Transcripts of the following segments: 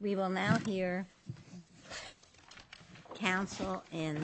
We will now hear counsel in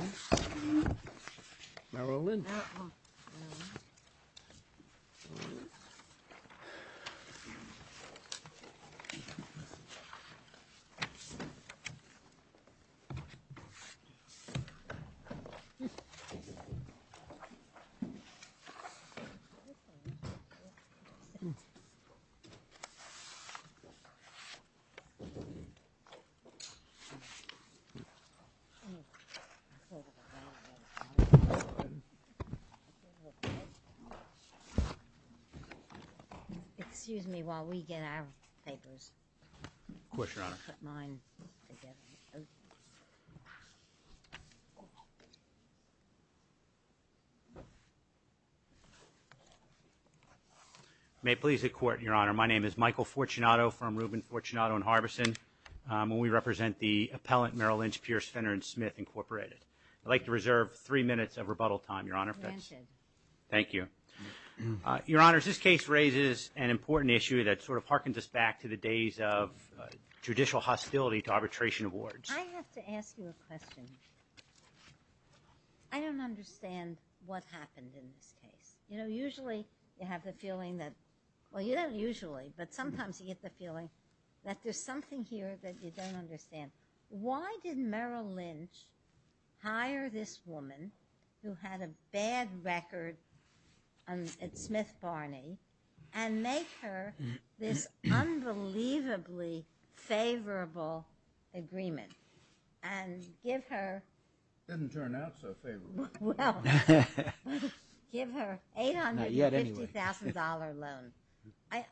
court. May it please the court, your honor, my name is Michael Fortunato from Reuben Fortunato and Harbison. We represent the appellant Merrill Lynch Pierce Fenner&Smith Inc. I'd like to reserve three minutes of rebuttal time, your honor. Thank you. Your honors, this case raises an important issue that sort of harkens us back to the days of judicial hostility to arbitration awards. I have to ask you a question. I don't understand what happened in this case. You know, usually you have the feeling that, well you don't usually, but sometimes you get the feeling that there's something here that you don't understand. Why did Merrill Lynch hire this woman who had a bad record at Smith Barney and make her this unbelievably favorable agreement and give her... It didn't turn out so favorably. Well, give her $850,000 loan. I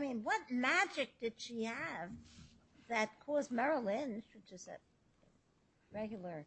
mean, what magic did she have that caused Merrill Lynch, which is a regular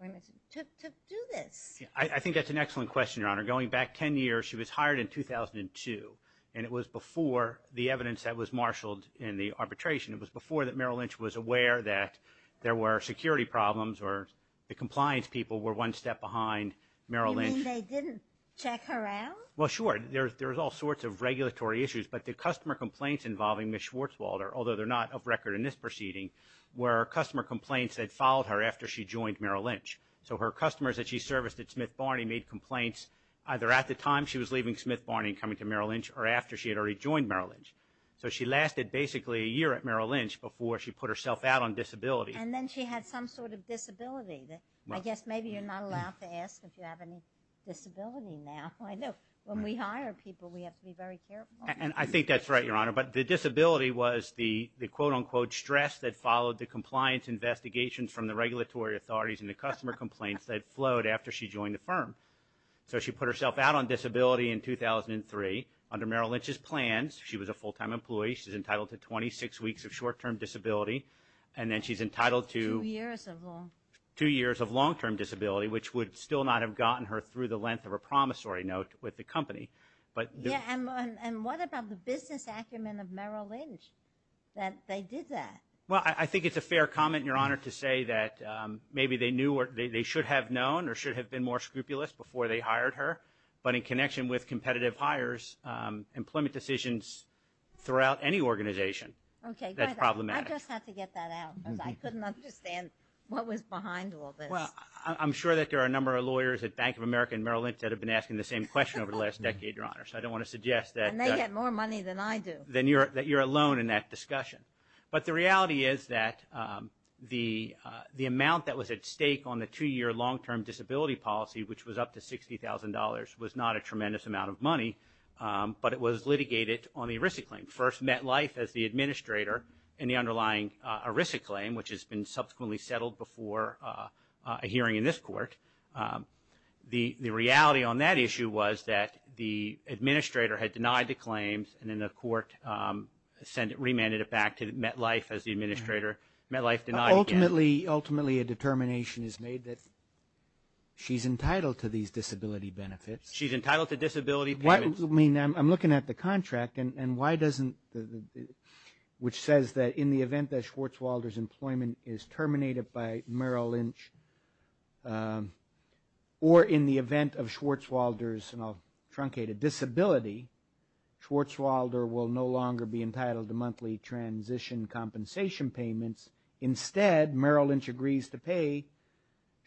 woman, to do this? I think that's an excellent question, your honor. Going back ten years, she was hired in 2002 and it was before the evidence that was marshaled in the arbitration. It was before that Merrill Lynch was aware that there were security problems or the compliance people were one step behind Merrill Lynch. You mean they didn't check her out? Well, sure. There's all sorts of regulatory issues, but the customer complaints involving Ms. Schwarzwalder, although they're not of record in this proceeding, were customer complaints that followed her after she joined Merrill Lynch. So her customers that she serviced at Smith Barney made complaints either at the time she was leaving Smith Barney and coming to Merrill Lynch or after she had already joined Merrill Lynch. So she lasted basically a year at Merrill Lynch before she put herself out on disability. And then she had some sort of disability. I guess maybe you're not allowed to ask if you have any disability now. I know. When we hire people, we have to be very careful. And I think that's right, your honor. But the disability was the quote-unquote stress that followed the compliance investigations from the regulatory authorities and the customer complaints that flowed after she joined the firm. So she put herself out on disability in 2003 under Merrill Lynch's plans. She was a full-time employee. She's entitled to 26 weeks of short-term disability. And then she's entitled to... Two years of long... Two years of long-term disability, which would still not have gotten her through the length of a promissory note with the company. And what about the business acumen of Merrill Lynch that they did that? Well, I think it's a fair comment, your honor, to say that maybe they should have known or should have been more scrupulous before they hired her. But in connection with competitive hires, employment decisions throughout any organization that's problematic. Okay. I just have to get that out because I couldn't understand what was behind all this. Well, I'm sure that there are a number of lawyers at Bank of America and Merrill Lynch that have been asking the same question over the last decade, your honor. So I don't want to suggest that... And they get more money than I do. ...that you're alone in that discussion. But the reality is that the amount that was at stake on the two-year long-term disability policy, which was up to $60,000, was not a claim, but it was litigated on the ERISA claim. First, MetLife as the administrator in the underlying ERISA claim, which has been subsequently settled before a hearing in this court. The reality on that issue was that the administrator had denied the claims and then the court remanded it back to MetLife as the administrator. MetLife denied again. Ultimately, a determination is made that she's entitled to these disability benefits. She's entitled to disability payments. I'm looking at the contract, which says that in the event that Schwarzwalder's employment is terminated by Merrill Lynch or in the event of Schwarzwalder's, and I'll truncate it, disability, Schwarzwalder will no longer be entitled to monthly transition compensation payments. Instead, Merrill Lynch agrees to pay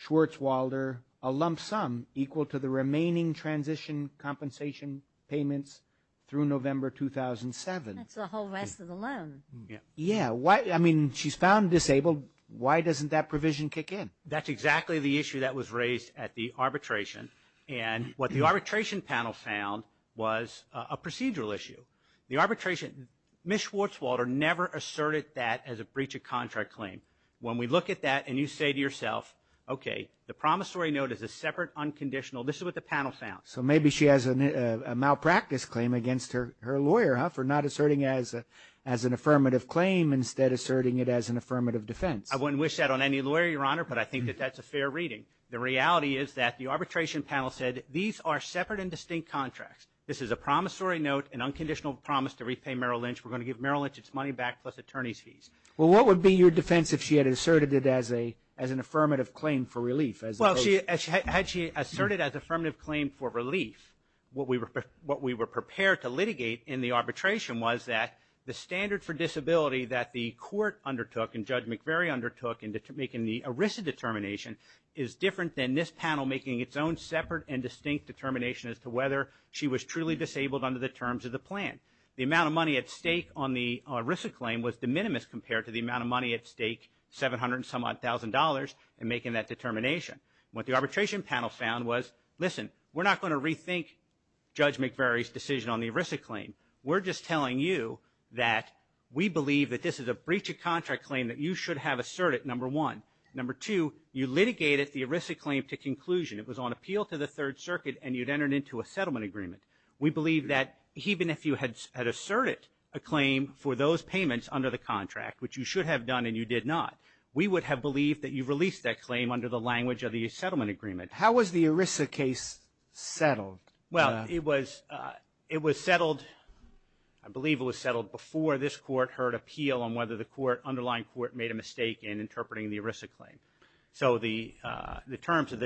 Schwarzwalder a lump sum equal to the remaining transition compensation payments through November 2007. That's the whole rest of the loan. Yeah. I mean, she's found disabled. Why doesn't that provision kick in? That's exactly the issue that was raised at the arbitration, and what the arbitration panel found was a procedural issue. The arbitration, Ms. Schwarzwalder never asserted that as a breach of contract claim. When we look at that and you say to yourself, okay, the promissory note is a separate unconditional, this is what the panel found. Maybe she has a malpractice claim against her lawyer for not asserting as an affirmative claim instead asserting it as an affirmative defense. I wouldn't wish that on any lawyer, Your Honor, but I think that that's a fair reading. The reality is that the arbitration panel said, these are separate and distinct contracts. This is a promissory note, an unconditional promise to repay Merrill Lynch. We're going to give Merrill Lynch its money back plus attorney's fees. Well, what would be your defense if she had asserted it as an affirmative claim for relief? Well, had she asserted as affirmative claim for relief, what we were prepared to litigate in the arbitration was that the standard for disability that the court undertook and Judge McVery undertook in making the ERISA determination is different than this panel making its own separate and distinct determination as to whether she was truly disabled under the terms of the plan. The amount of money at stake on the ERISA claim was de minimis compared to the amount of money at stake, 700 and some odd thousand dollars in making that determination. What the arbitration panel found was, listen, we're not going to rethink Judge McVery's decision on the ERISA claim. We're just telling you that we believe that this is a breach of contract claim that you should have asserted, number one. Number two, you litigated the ERISA claim to conclusion. It was on appeal to the Third Circuit and you'd entered into a settlement agreement. We believe that even if you had asserted a claim for those payments under the contract, which you should have done and you did not, we would have believed that you released that claim under the language of the settlement agreement. How was the ERISA case settled? Well, it was settled, I believe it was settled before this court heard appeal on whether the underlying court made a mistake in interpreting the ERISA claim. So the terms of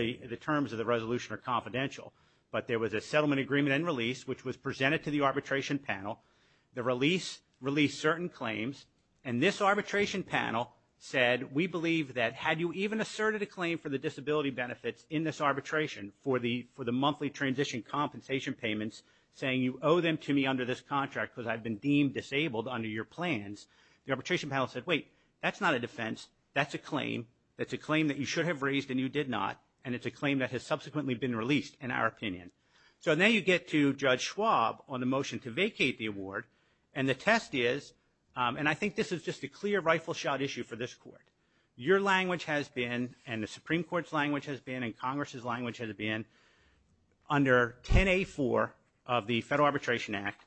the resolution are confidential. But there was a settlement agreement and release, which was presented to the arbitration panel. The release released certain claims. And this arbitration panel said, we believe that had you even asserted a claim for the disability benefits in this arbitration for the monthly transition compensation payments, saying you owe them to me under this contract because I've been deemed disabled under your plans, the arbitration panel said, wait, that's not a defense. That's a claim. That's a claim that you should have raised and you did not. And it's a claim that has subsequently been released. And our opinion. So now you get to Judge Schwab on the motion to vacate the award. And the test is, and I think this is just a clear rifle shot issue for this court. Your language has been and the Supreme Court's language has been and Congress's language has been under 10A4 of the Federal Arbitration Act,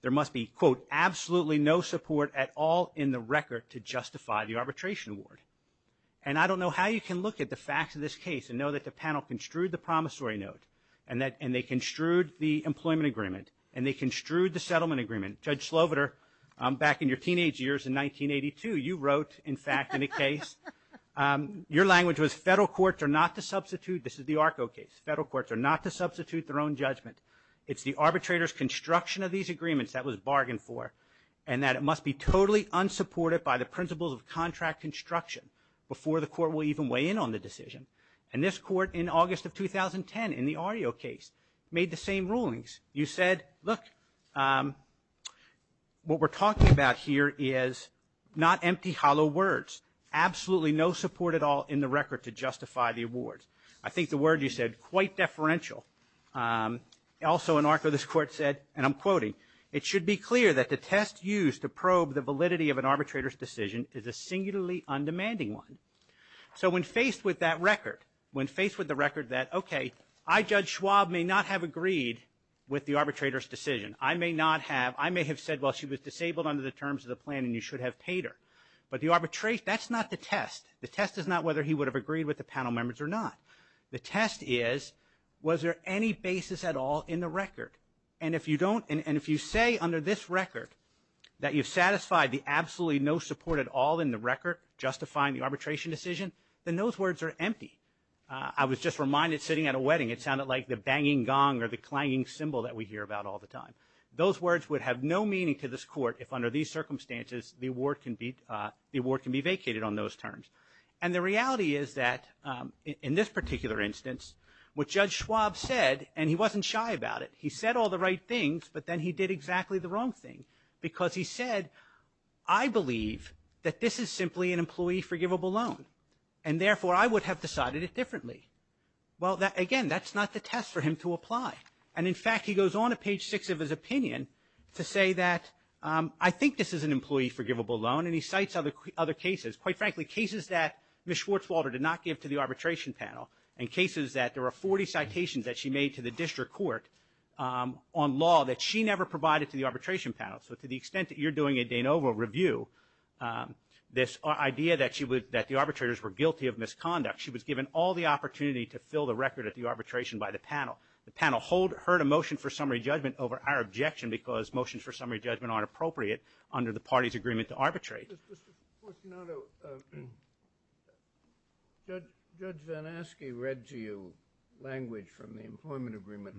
there must be, quote, absolutely no support at all in the record to justify the arbitration award. And I don't know how you can look at the facts of this case and know that the panel construed the promissory note and they construed the employment agreement and they construed the settlement agreement. Judge Sloviter, back in your teenage years in 1982, you wrote, in fact, in a case, your language was, federal courts are not to substitute, this is the ARCO case, federal courts are not to substitute their own judgment. It's the arbitrator's construction of these agreements that was bargained for and that it must be totally unsupported by the principles of contract construction before the court will even weigh in on the decision. And this court, in August of 2010, in the REO case, made the same rulings. You said, look, what we're talking about here is not empty, hollow words, absolutely no support at all in the record to justify the awards. I think the word you said, quite deferential. Also in ARCO, this court said, and I'm quoting, it should be clear that the test used to probe the validity of an arbitrator's decision is a singularly undemanding one. So when faced with that record, when faced with the record that, okay, I, Judge Schwab, may not have agreed with the arbitrator's decision. I may not have. I may have said, well, she was disabled under the terms of the plan and you should have paid her. But the arbitration, that's not the test. The test is not whether he would have agreed with the panel members or not. The test is, was there any basis at all in the record? And if you don't, and if you say under this record that you've satisfied the absolutely no support at all in the record justifying the arbitration decision, then those words are empty. I was just reminded sitting at a wedding, it sounded like the banging gong or the clanging cymbal that we hear about all the time. Those words would have no meaning to this court if under these circumstances the award can be vacated on those terms. And the reality is that in this particular instance, what Judge Schwab said, and he wasn't shy about it, he said all the right things, but then he did exactly the wrong thing. Because he said, I believe that this is simply an employee forgivable loan and therefore I would have decided it differently. Well, again, that's not the test for him to apply. And in fact, he goes on to page six of his opinion to say that I think this is an employee forgivable loan and he cites other cases. Quite frankly, cases that Ms. Schwartzwalder did not give to the arbitration panel and cases that there were 40 citations that she made to the district court on law that she never provided to the arbitration panel. So to the extent that you're doing a Danova review, this idea that the arbitrators were guilty of misconduct, she was given all the opportunity to fill the record at the arbitration by the panel. The panel heard a motion for summary judgment over our objection because motions for summary judgment aren't appropriate under the party's agreement to arbitrate. Mr. Fortunato, Judge Zanasky read to you language from the employment agreement.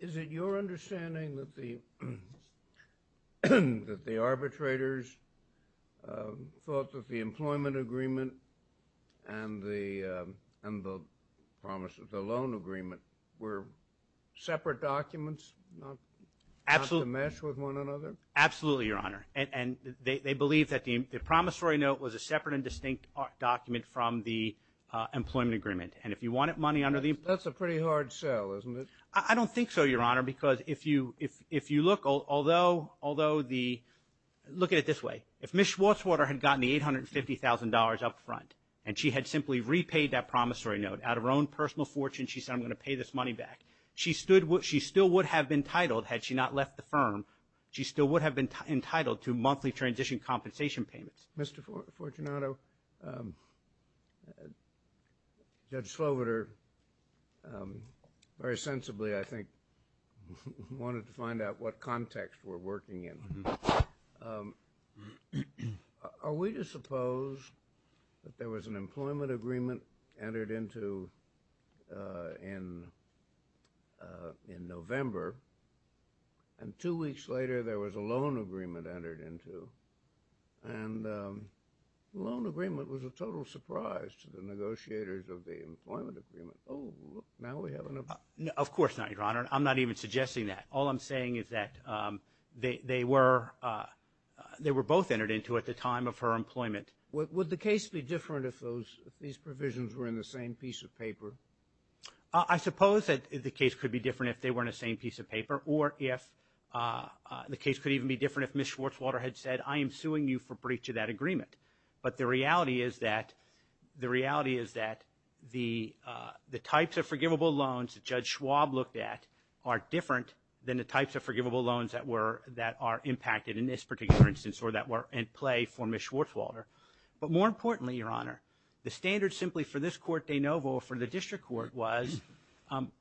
Is it your understanding that the arbitrators thought that the employment agreement and the promise of the loan agreement were separate documents, not to mesh with one another? Absolutely, Your Honor. And they believe that the promissory note was a separate and distinct document from the employment agreement. And if you want it, money under the... That's a pretty hard sell, isn't it? I don't think so, Your Honor, because if you look, although the... Look at it this way. If Ms. Schwartzwalder had gotten the $850,000 up front and she had simply repaid that promissory note out of her own personal fortune, she said, I'm going to pay this money back. She still would have been titled had she not left the firm. She still would have been entitled to monthly transition compensation payments. Mr. Fortunato, Judge Sloviter very sensibly, I think, wanted to find out what context we're working in. Are we to suppose that there was an employment agreement entered into in November and two weeks later there was a loan agreement entered into? And the loan agreement was a total surprise to the negotiators of the employment agreement. Oh, look, now we have an... Of course not, Your Honor. I'm not even suggesting that. All I'm saying is that they were both entered into at the time of her employment. Would the case be different if these provisions were in the same piece of paper? I suppose that the case could be different if they were in the same piece of paper, or the case could even be different if Ms. Schwartzwalder had said, I am suing you for breach of that agreement. But the reality is that the types of forgivable loans that Judge Schwab looked at are different than the types of forgivable loans that were, that are impacted in this particular instance or that were in play for Ms. Schwartzwalder. But more importantly, Your Honor, the standard simply for this court de novo for the district court was,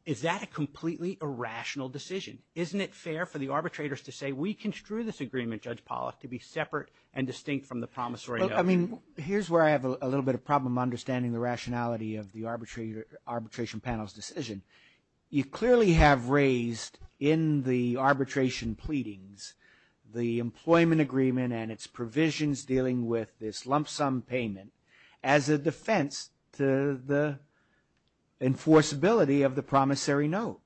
is that a completely irrational decision? Isn't it fair for the arbitrators to say we construe this agreement, Judge Pollack, to be separate and distinct from the promissory note? Look, I mean, here's where I have a little bit of problem understanding the rationality of the arbitration panel's decision. You clearly have raised in the arbitration pleadings the employment agreement and its provisions dealing with this lump sum payment as a defense to the enforceability of the promissory note.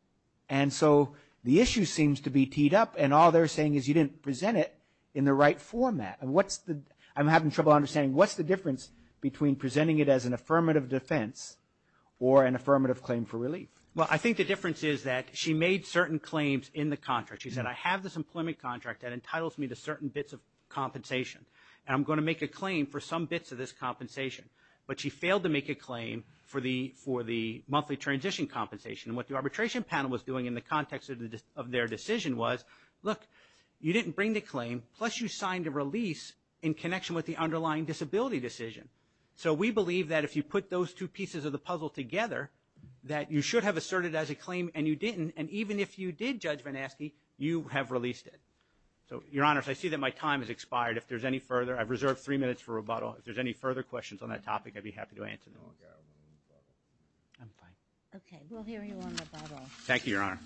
And so the issue seems to be teed up, and all they're saying is you didn't present it in the right format. And what's the, I'm having trouble understanding, what's the difference between presenting it as an affirmative defense or an affirmative claim for relief? Well, I think the difference is that she made certain claims in the contract. She said, I have this employment contract that entitles me to certain bits of compensation, and I'm going to make a claim for some bits of this compensation. But she failed to make a claim for the, for the monthly transition compensation. And what the arbitration panel was doing in the context of their decision was, look, you didn't bring the claim, plus you signed a release in connection with the underlying disability decision. So we believe that if you put those two pieces of the puzzle together, that you should have asserted as a claim and you didn't, and even if you did, Judge Van Aske, you have released it. So, Your Honor, I see that my time has expired. If there's any further, I've reserved three minutes for rebuttal. If there's any further questions on that topic, I'd be happy to answer them. I'm fine. Okay. We'll hear you on rebuttal. Thank you, Your Honor.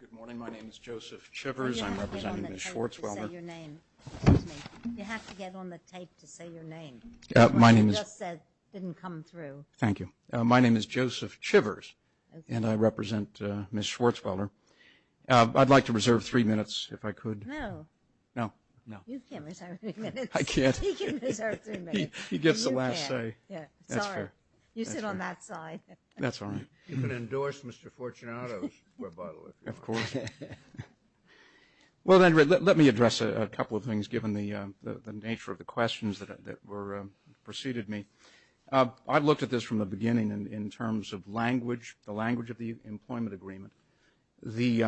Good morning. My name is Joseph Chivers. I'm representing Ms. Schwarzweiler. You have to get on the tape to say your name. Excuse me. You have to get on the tape to say your name. My name is. What you just said didn't come through. Thank you. My name is Joseph Chivers, and I represent Ms. Schwarzweiler. I'd like to reserve three minutes if I could. No. No. No. You can't reserve three minutes. I can't. You can't reserve three minutes. He gets the last say. You can't. All right. You can endorse Mr. Fortunato's rebuttal, if you want. Of course. Well, then, let me address a couple of things, given the nature of the questions that preceded me. I looked at this from the beginning in terms of language, the language of the employment agreement, the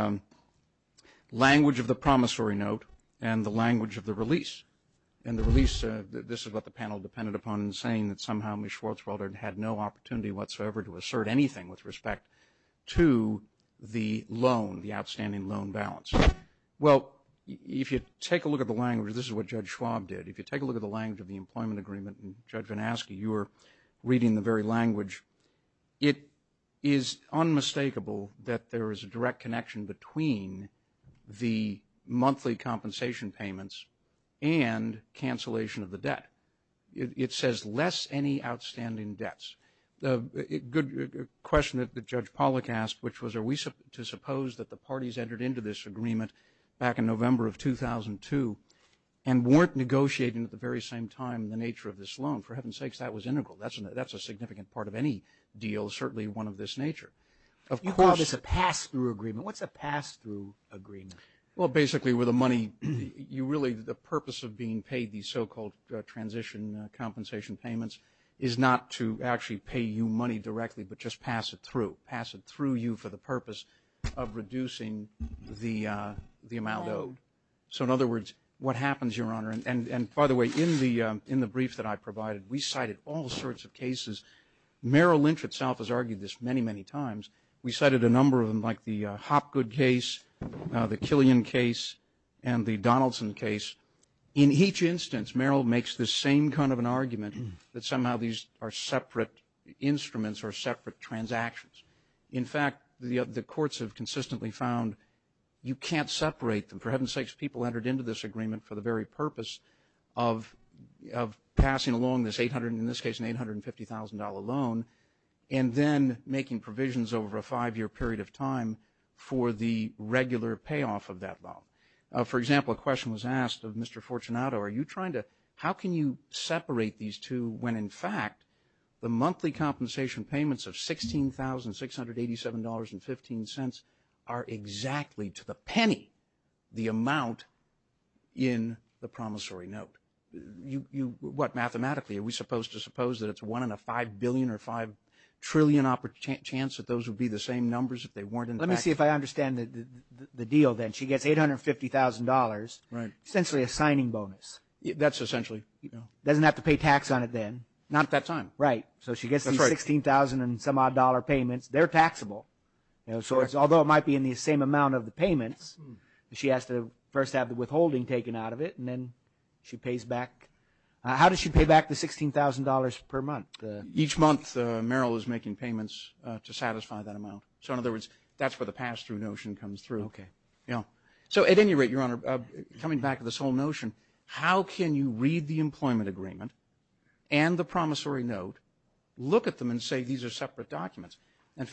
language of the promissory note, and the language of the release. And the release, this is what the panel depended upon in saying that somehow Ms. Schwarzweiler had no opportunity whatsoever to assert anything with respect to the loan, the outstanding loan balance. Well, if you take a look at the language, this is what Judge Schwab did. If you take a look at the language of the employment agreement, and, Judge Van Aske, you were reading the very language, it is unmistakable that there is a direct connection between the monthly compensation payments and cancellation of the debt. It says, less any outstanding debts. A good question that Judge Pollack asked, which was, are we to suppose that the parties entered into this agreement back in November of 2002 and weren't negotiating at the very same time the nature of this loan? For heaven's sakes, that was integral. That's a significant part of any deal, certainly one of this nature. You call this a pass-through agreement. What's a pass-through agreement? Well, basically, with the money, you really, the purpose of being paid these so-called transition compensation payments is not to actually pay you money directly but just pass it through, pass it through you for the purpose of reducing the amount owed. So, in other words, what happens, Your Honor, and, by the way, in the brief that I provided, we cited all sorts of cases. Merrill Lynch itself has argued this many, many times. We cited a number of them like the Hopgood case, the Killian case, and the Donaldson case. In each instance, Merrill makes the same kind of an argument that somehow these are separate instruments or separate transactions. In fact, the courts have consistently found you can't separate them. For heaven's sakes, people entered into this agreement for the very purpose of passing along this $800,000, and then making provisions over a five-year period of time for the regular payoff of that loan. For example, a question was asked of Mr. Fortunato, are you trying to, how can you separate these two when, in fact, the monthly compensation payments of $16,687.15 are exactly, to the penny, the amount in the promissory note? What, mathematically? Are we supposed to suppose that it's one in a five billion or five trillion chance that those would be the same numbers if they weren't? Let me see if I understand the deal then. She gets $850,000, essentially a signing bonus. That's essentially. Doesn't have to pay tax on it then. Not at that time. Right. So she gets these $16,000 and some odd dollar payments. They're taxable. Although it might be in the same amount of the payments, she has to first have the withholding taken out of it, and then she pays back. How does she pay back the $16,000 per month? Each month Merrill is making payments to satisfy that amount. So in other words, that's where the pass-through notion comes through. Okay. Yeah. So at any rate, Your Honor, coming back to this whole notion, how can you read the employment agreement and the promissory note, look at them and say these are separate documents?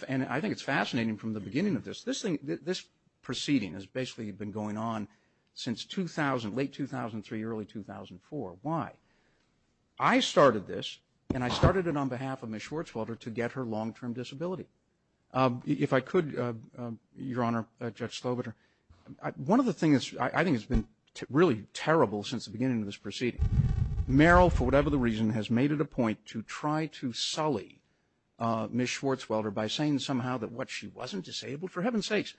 And I think it's fascinating from the beginning of this, this proceeding has basically been going on since 2000, late 2003, early 2004. Why? I started this, and I started it on behalf of Ms. Schwartzwelder to get her long-term disability. If I could, Your Honor, Judge Slobiter, one of the things I think has been really terrible since the beginning of this proceeding, Merrill, for whatever the reason, has made it a point to try to sully Ms. Schwartzwelder by saying somehow that she wasn't disabled, for heaven's sakes.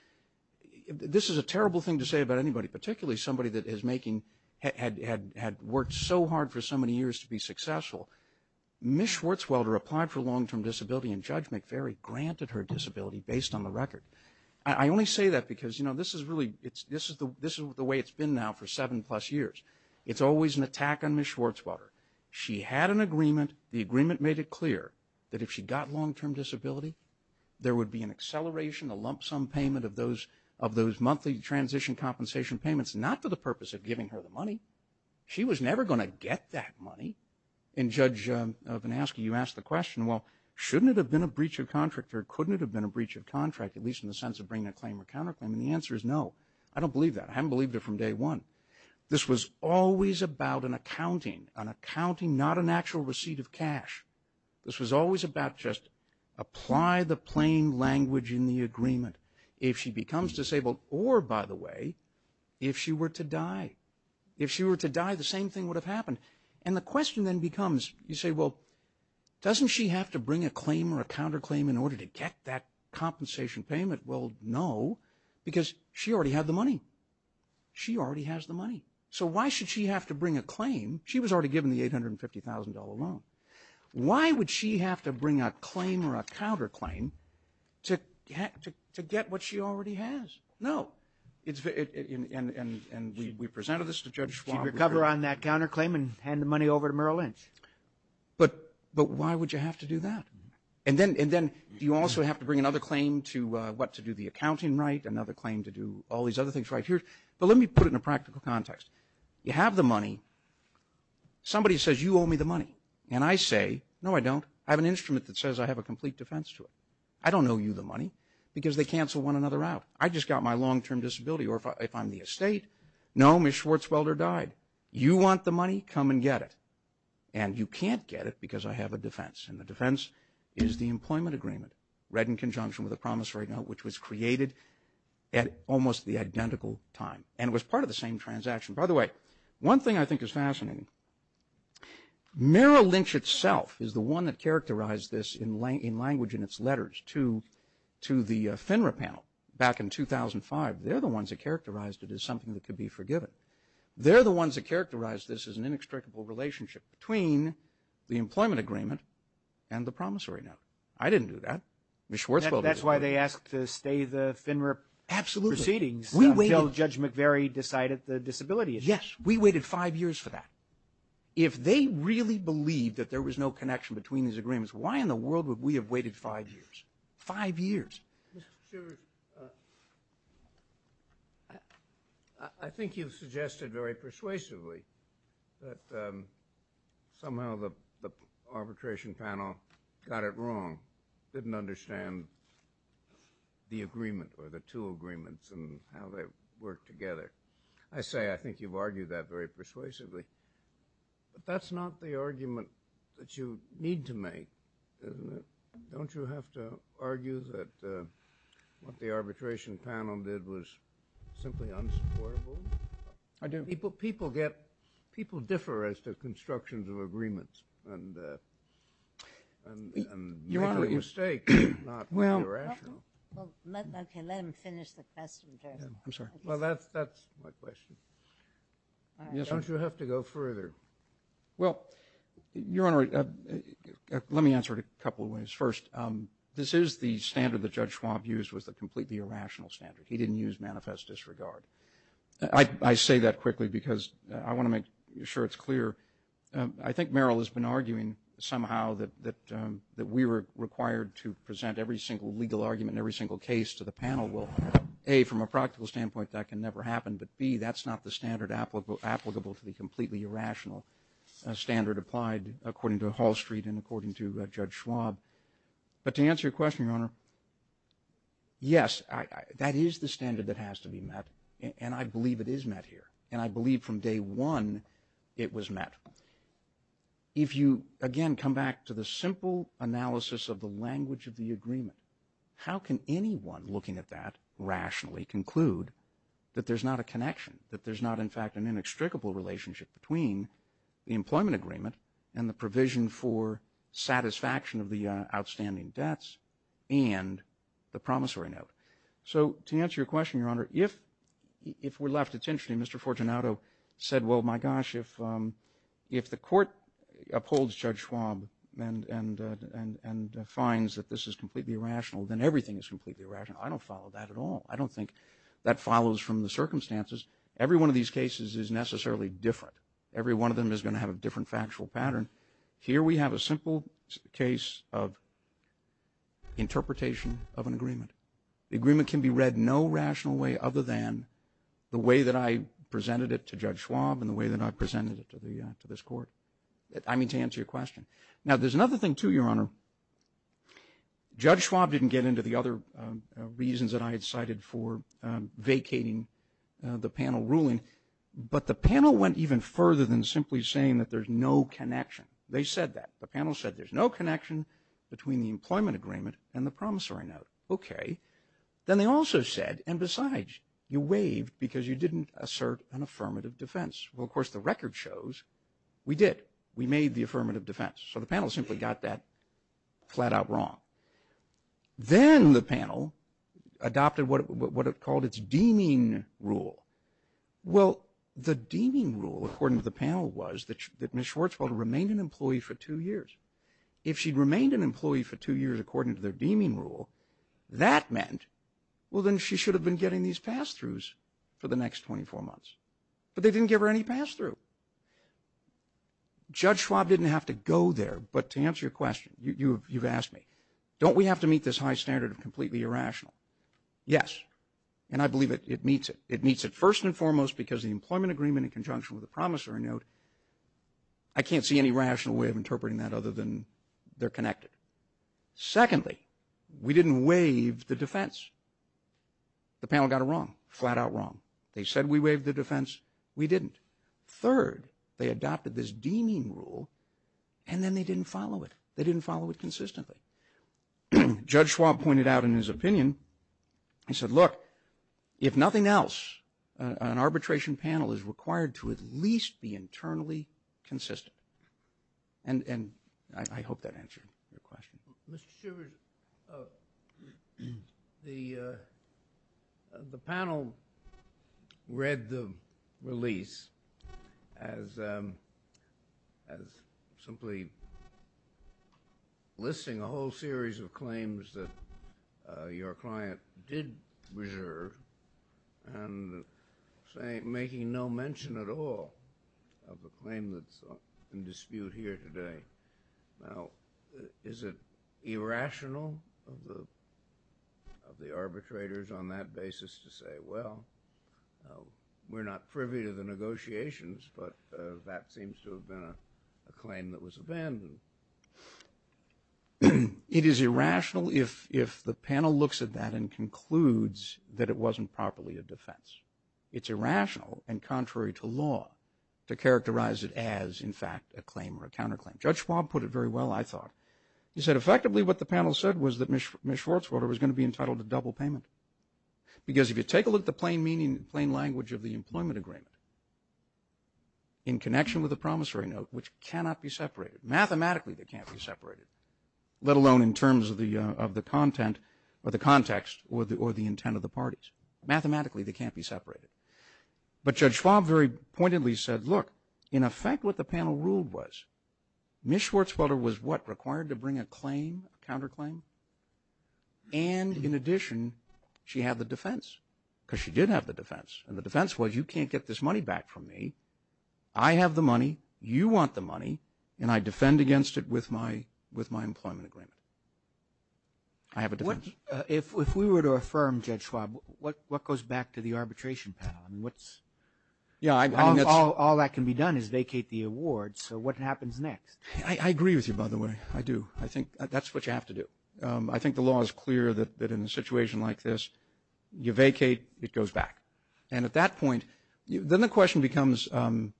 This is a terrible thing to say about anybody, particularly somebody that had worked so hard for so many years to be successful. Ms. Schwartzwelder applied for long-term disability, and Judge McFerry granted her disability based on the record. I only say that because this is the way it's been now for seven-plus years. It's always an attack on Ms. Schwartzwelder. She had an agreement. The agreement made it clear that if she got long-term disability, there would be an acceleration, a lump sum payment of those monthly transition compensation payments, not for the purpose of giving her the money. She was never going to get that money. And, Judge VanAske, you asked the question, well, shouldn't it have been a breach of contract or couldn't it have been a breach of contract, at least in the sense of bringing a claim or counterclaim? And the answer is no. I don't believe that. I haven't believed it from day one. This was always about an accounting, an accounting, not an actual receipt of cash. This was always about just apply the plain language in the agreement. If she becomes disabled or, by the way, if she were to die. If she were to die, the same thing would have happened. And the question then becomes, you say, well, doesn't she have to bring a claim or a counterclaim in order to get that compensation payment? Well, no, because she already had the money. She already has the money. So why should she have to bring a claim? She was already given the $850,000 loan. Why would she have to bring a claim or a counterclaim to get what she already has? No. And we presented this to Judge Schwab. She'd recover on that counterclaim and hand the money over to Merrill Lynch. But why would you have to do that? And then do you also have to bring another claim to what to do the accounting right, another claim to do all these other things right here? But let me put it in a practical context. You have the money. Somebody says, you owe me the money. And I say, no, I don't. I have an instrument that says I have a complete defense to it. I don't owe you the money because they cancel one another out. I just got my long-term disability. Or if I'm the estate, no, Ms. Schwarzwelder died. You want the money? Come and get it. And you can't get it because I have a defense. And the defense is the employment agreement, read in conjunction with a promissory note, which was created at almost the identical time. And it was part of the same transaction. By the way, one thing I think is fascinating, Merrill Lynch itself is the one that characterized this in language in its letters to the FINRA panel back in 2005. They're the ones that characterized it as something that could be forgiven. They're the ones that characterized this as an inextricable relationship between the employment agreement and the promissory note. I didn't do that. Ms. Schwarzwelder did. That's why they asked to stay the FINRA proceedings until Judge McVeary decided that the disability issue. Yes, we waited five years for that. If they really believed that there was no connection between these agreements, why in the world would we have waited five years? Five years. Mr. Shivers, I think you've suggested very persuasively that somehow the arbitration panel got it wrong, didn't understand the agreement or the two worked together. I say I think you've argued that very persuasively. But that's not the argument that you need to make, isn't it? Don't you have to argue that what the arbitration panel did was simply unsupportable? I do. People differ as to constructions of agreements and make a mistake, not be rational. Okay, let him finish the question. I'm sorry. Well, that's my question. Don't you have to go further? Well, Your Honor, let me answer it a couple of ways. First, this is the standard that Judge Schwab used was a completely irrational standard. He didn't use manifest disregard. I say that quickly because I want to make sure it's clear. I think Meryl has been arguing somehow that we were required to present every But, B, that's not the standard applicable to the completely irrational standard applied according to Hall Street and according to Judge Schwab. But to answer your question, Your Honor, yes, that is the standard that has to be met. And I believe it is met here. And I believe from day one it was met. If you, again, come back to the simple analysis of the language of the that there's not a connection, that there's not, in fact, an inextricable relationship between the employment agreement and the provision for satisfaction of the outstanding debts and the promissory note. So to answer your question, Your Honor, if we're left attention and Mr. Fortunato said, well, my gosh, if the court upholds Judge Schwab and finds that this is completely irrational, then everything is completely irrational. I don't follow that at all. I don't think that follows from the circumstances. Every one of these cases is necessarily different. Every one of them is going to have a different factual pattern. Here we have a simple case of interpretation of an agreement. The agreement can be read no rational way other than the way that I presented it to Judge Schwab and the way that I presented it to this court. I mean, to answer your question. Now, there's another thing, too, Your Honor. Judge Schwab didn't get into the other reasons that I had cited for vacating the panel ruling, but the panel went even further than simply saying that there's no connection. They said that. The panel said there's no connection between the employment agreement and the promissory note. Okay. Then they also said, and besides, you waived because you didn't assert an affirmative defense. Well, of course, the record shows we did. We made the affirmative defense. So the panel simply got that flat out wrong. Then the panel adopted what it called its deeming rule. Well, the deeming rule, according to the panel, was that Ms. Schwarzfeld remained an employee for two years. If she remained an employee for two years according to their deeming rule, that meant, well, then she should have been getting these pass-throughs for the next 24 months. But they didn't give her any pass-through. Judge Schwab didn't have to go there. But to answer your question, you've asked me, don't we have to meet this high standard of completely irrational? Yes. And I believe it meets it. It meets it first and foremost because the employment agreement in conjunction with the promissory note, I can't see any rational way of interpreting that other than they're connected. Secondly, we didn't waive the defense. The panel got it wrong, flat out wrong. They said we waived the defense. We didn't. Third, they adopted this deeming rule, and then they didn't follow it. They didn't follow it consistently. Judge Schwab pointed out in his opinion, he said, look, if nothing else, an arbitration panel is required to at least be internally consistent. And I hope that answered your question. Mr. Schivers, the panel read the release as simply listing a whole series of claims that your client did reserve and making no mention at all of the claim that's in dispute here today. Now, is it irrational of the arbitrators on that basis to say, well, we're not privy to the negotiations, but that seems to have been a claim that was abandoned? It is irrational if the panel looks at that and concludes that it wasn't properly a defense. It's irrational and contrary to law to characterize it as, in fact, a claim or a counterclaim. Judge Schwab put it very well, I thought. He said, effectively, what the panel said was that Ms. Schwartzwater was going to be entitled to double payment. Because if you take a look at the plain language of the employment agreement in connection with the promissory note, which cannot be separated, mathematically they can't be separated, let alone in terms of the content or the context or the intent of the parties, mathematically they can't be separated. But Judge Schwab very pointedly said, look, in effect what the panel ruled was Ms. Schwartzwater was, what, required to bring a claim, a counterclaim? And in addition, she had the defense, because she did have the defense. And the defense was, you can't get this money back from me. I have the money, you want the money, and I defend against it with my employment agreement. I have a defense. If we were to affirm, Judge Schwab, what goes back to the arbitration panel? All that can be done is vacate the award, so what happens next? I agree with you, by the way, I do. I think that's what you have to do. I think the law is clear that in a situation like this, you vacate, it goes back. And at that point, then the question becomes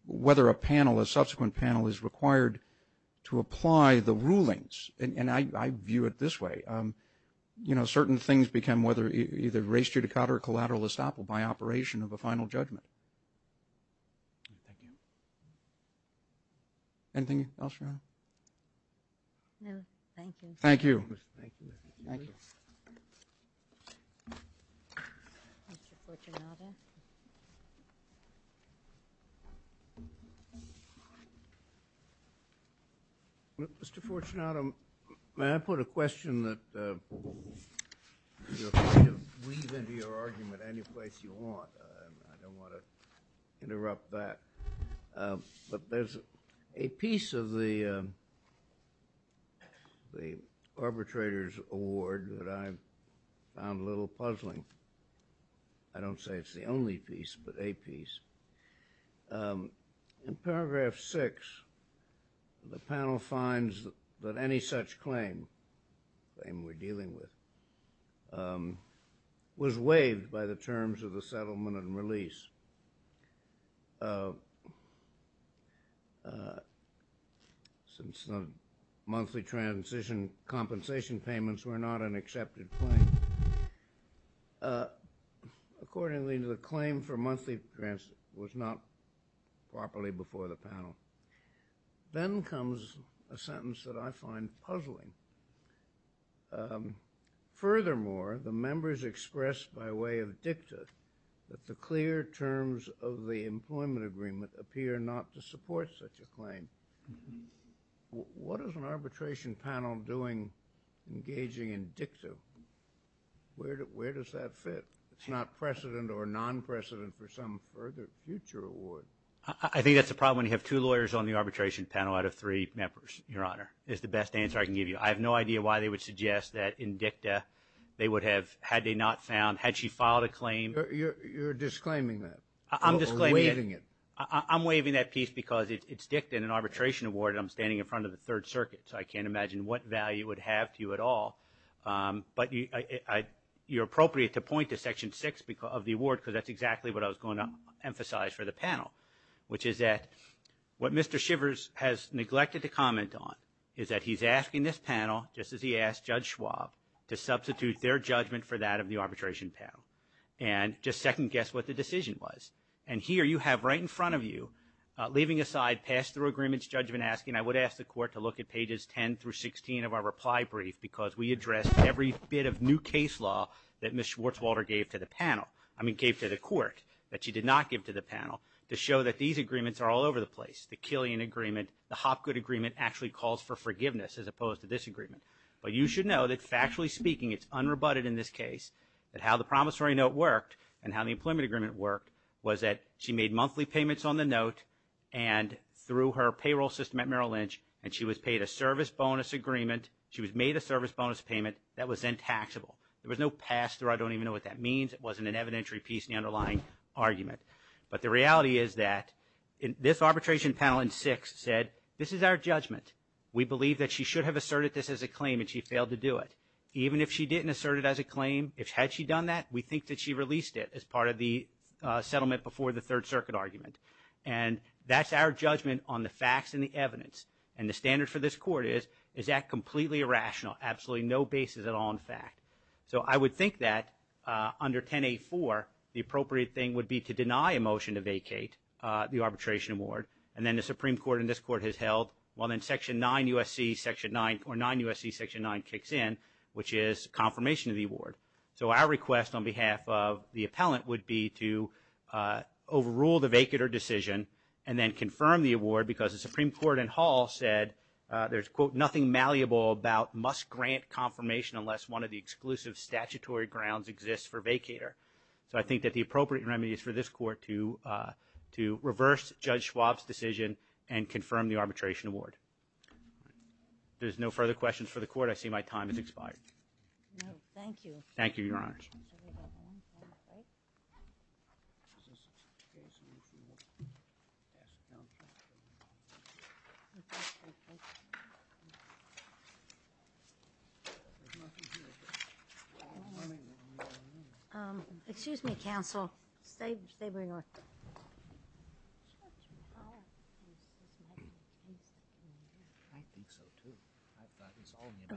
whether a panel, a subsequent panel, is required to apply the rulings. And I view it this way. You know, certain things become whether either race judicata or collateral estoppel by operation of a final judgment. Thank you. Anything else, Your Honor? No, thank you. Thank you. Thank you. Mr. Fortunato. Mr. Fortunato, may I put a question that, you're free to weave into your argument any place you want. I don't want to interrupt that. But there's a piece of the arbitrator's award that I found a little puzzling. I don't say it's the only piece, but a piece. In paragraph six, the panel finds that any such claim, claim we're dealing with, was waived by the terms of the settlement and release. Since the monthly transition compensation payments were not an accepted claim. Accordingly, the claim for monthly was not properly before the panel. Then comes a sentence that I find puzzling. Furthermore, the members expressed by way of dicta that the clear terms of the employment agreement appear not to support such a claim. What is an arbitration panel doing engaging in dicta? Where does that fit? It's not precedent or non-precedent for some further future award. I think that's a problem when you have two lawyers on the arbitration panel out of three members, Your Honor, is the best answer I can give you. I have no idea why they would suggest that in dicta they would have, had they not found, had she filed a claim. You're disclaiming that. I'm disclaiming it. Or waiving it. I'm waiving that piece because it's dicta and an arbitration award, and I'm standing in front of the Third Circuit, so I can't imagine what value it would have to you at all. But you're appropriate to point to section six of the award, because that's exactly what I was going to emphasize for the panel, which is that what Mr. Shivers has neglected to comment on is that he's asking this panel, just as he asked Judge Schwab, to substitute their judgment for that of the arbitration panel. And just second-guess what the decision was. And here you have right in front of you, leaving aside pass-through agreements judgment asking, I would ask the Court to look at pages 10 through 16 of our reply brief, because we addressed every bit of new case law that Ms. Schwartzwalder gave to the panel. I mean, gave to the Court, that she did not give to the panel, to show that these agreements are all over the place. The Killian agreement, the Hopgood agreement actually calls for forgiveness, as opposed to this agreement. But you should know that factually speaking, it's unrebutted in this case, that how the promissory note worked and how the employment agreement worked was that she made monthly payments on the note, and through her payroll system at Merrill Lynch, and she was paid a service bonus agreement. She was made a service bonus payment that was then taxable. There was no pass-through. I don't even know what that means. It wasn't an evidentiary piece in the underlying argument. But the reality is that this arbitration panel in six said, this is our judgment. We believe that she should have asserted this as a claim, and she failed to do it. Even if she didn't assert it as a claim, had she done that, we think that she released it as part of the settlement before the Third Circuit argument. And that's our judgment on the facts and the evidence. And the standard for this Court is, is that completely irrational, absolutely no basis at all in fact. So I would think that under 10A4, the appropriate thing would be to deny a motion to vacate the arbitration award, and then the Supreme Court and this Court has held, well, then section 9 USC section 9 or 9 USC section 9 kicks in, which is confirmation of the award. So our request on behalf of the appellant would be to overrule the vacater decision and then confirm the award because the Supreme Court in Hall said, there's, quote, nothing malleable about must grant confirmation unless one of the exclusive statutory grounds exists for vacater. So I think that the appropriate remedy is for this Court to, to reverse Judge Schwab's decision and confirm the arbitration award. If there's no further questions for the Court, I see my time has expired. No, thank you. Thank you, Your Honors. Thank you. Excuse me, counsel. Stay, stay where you are.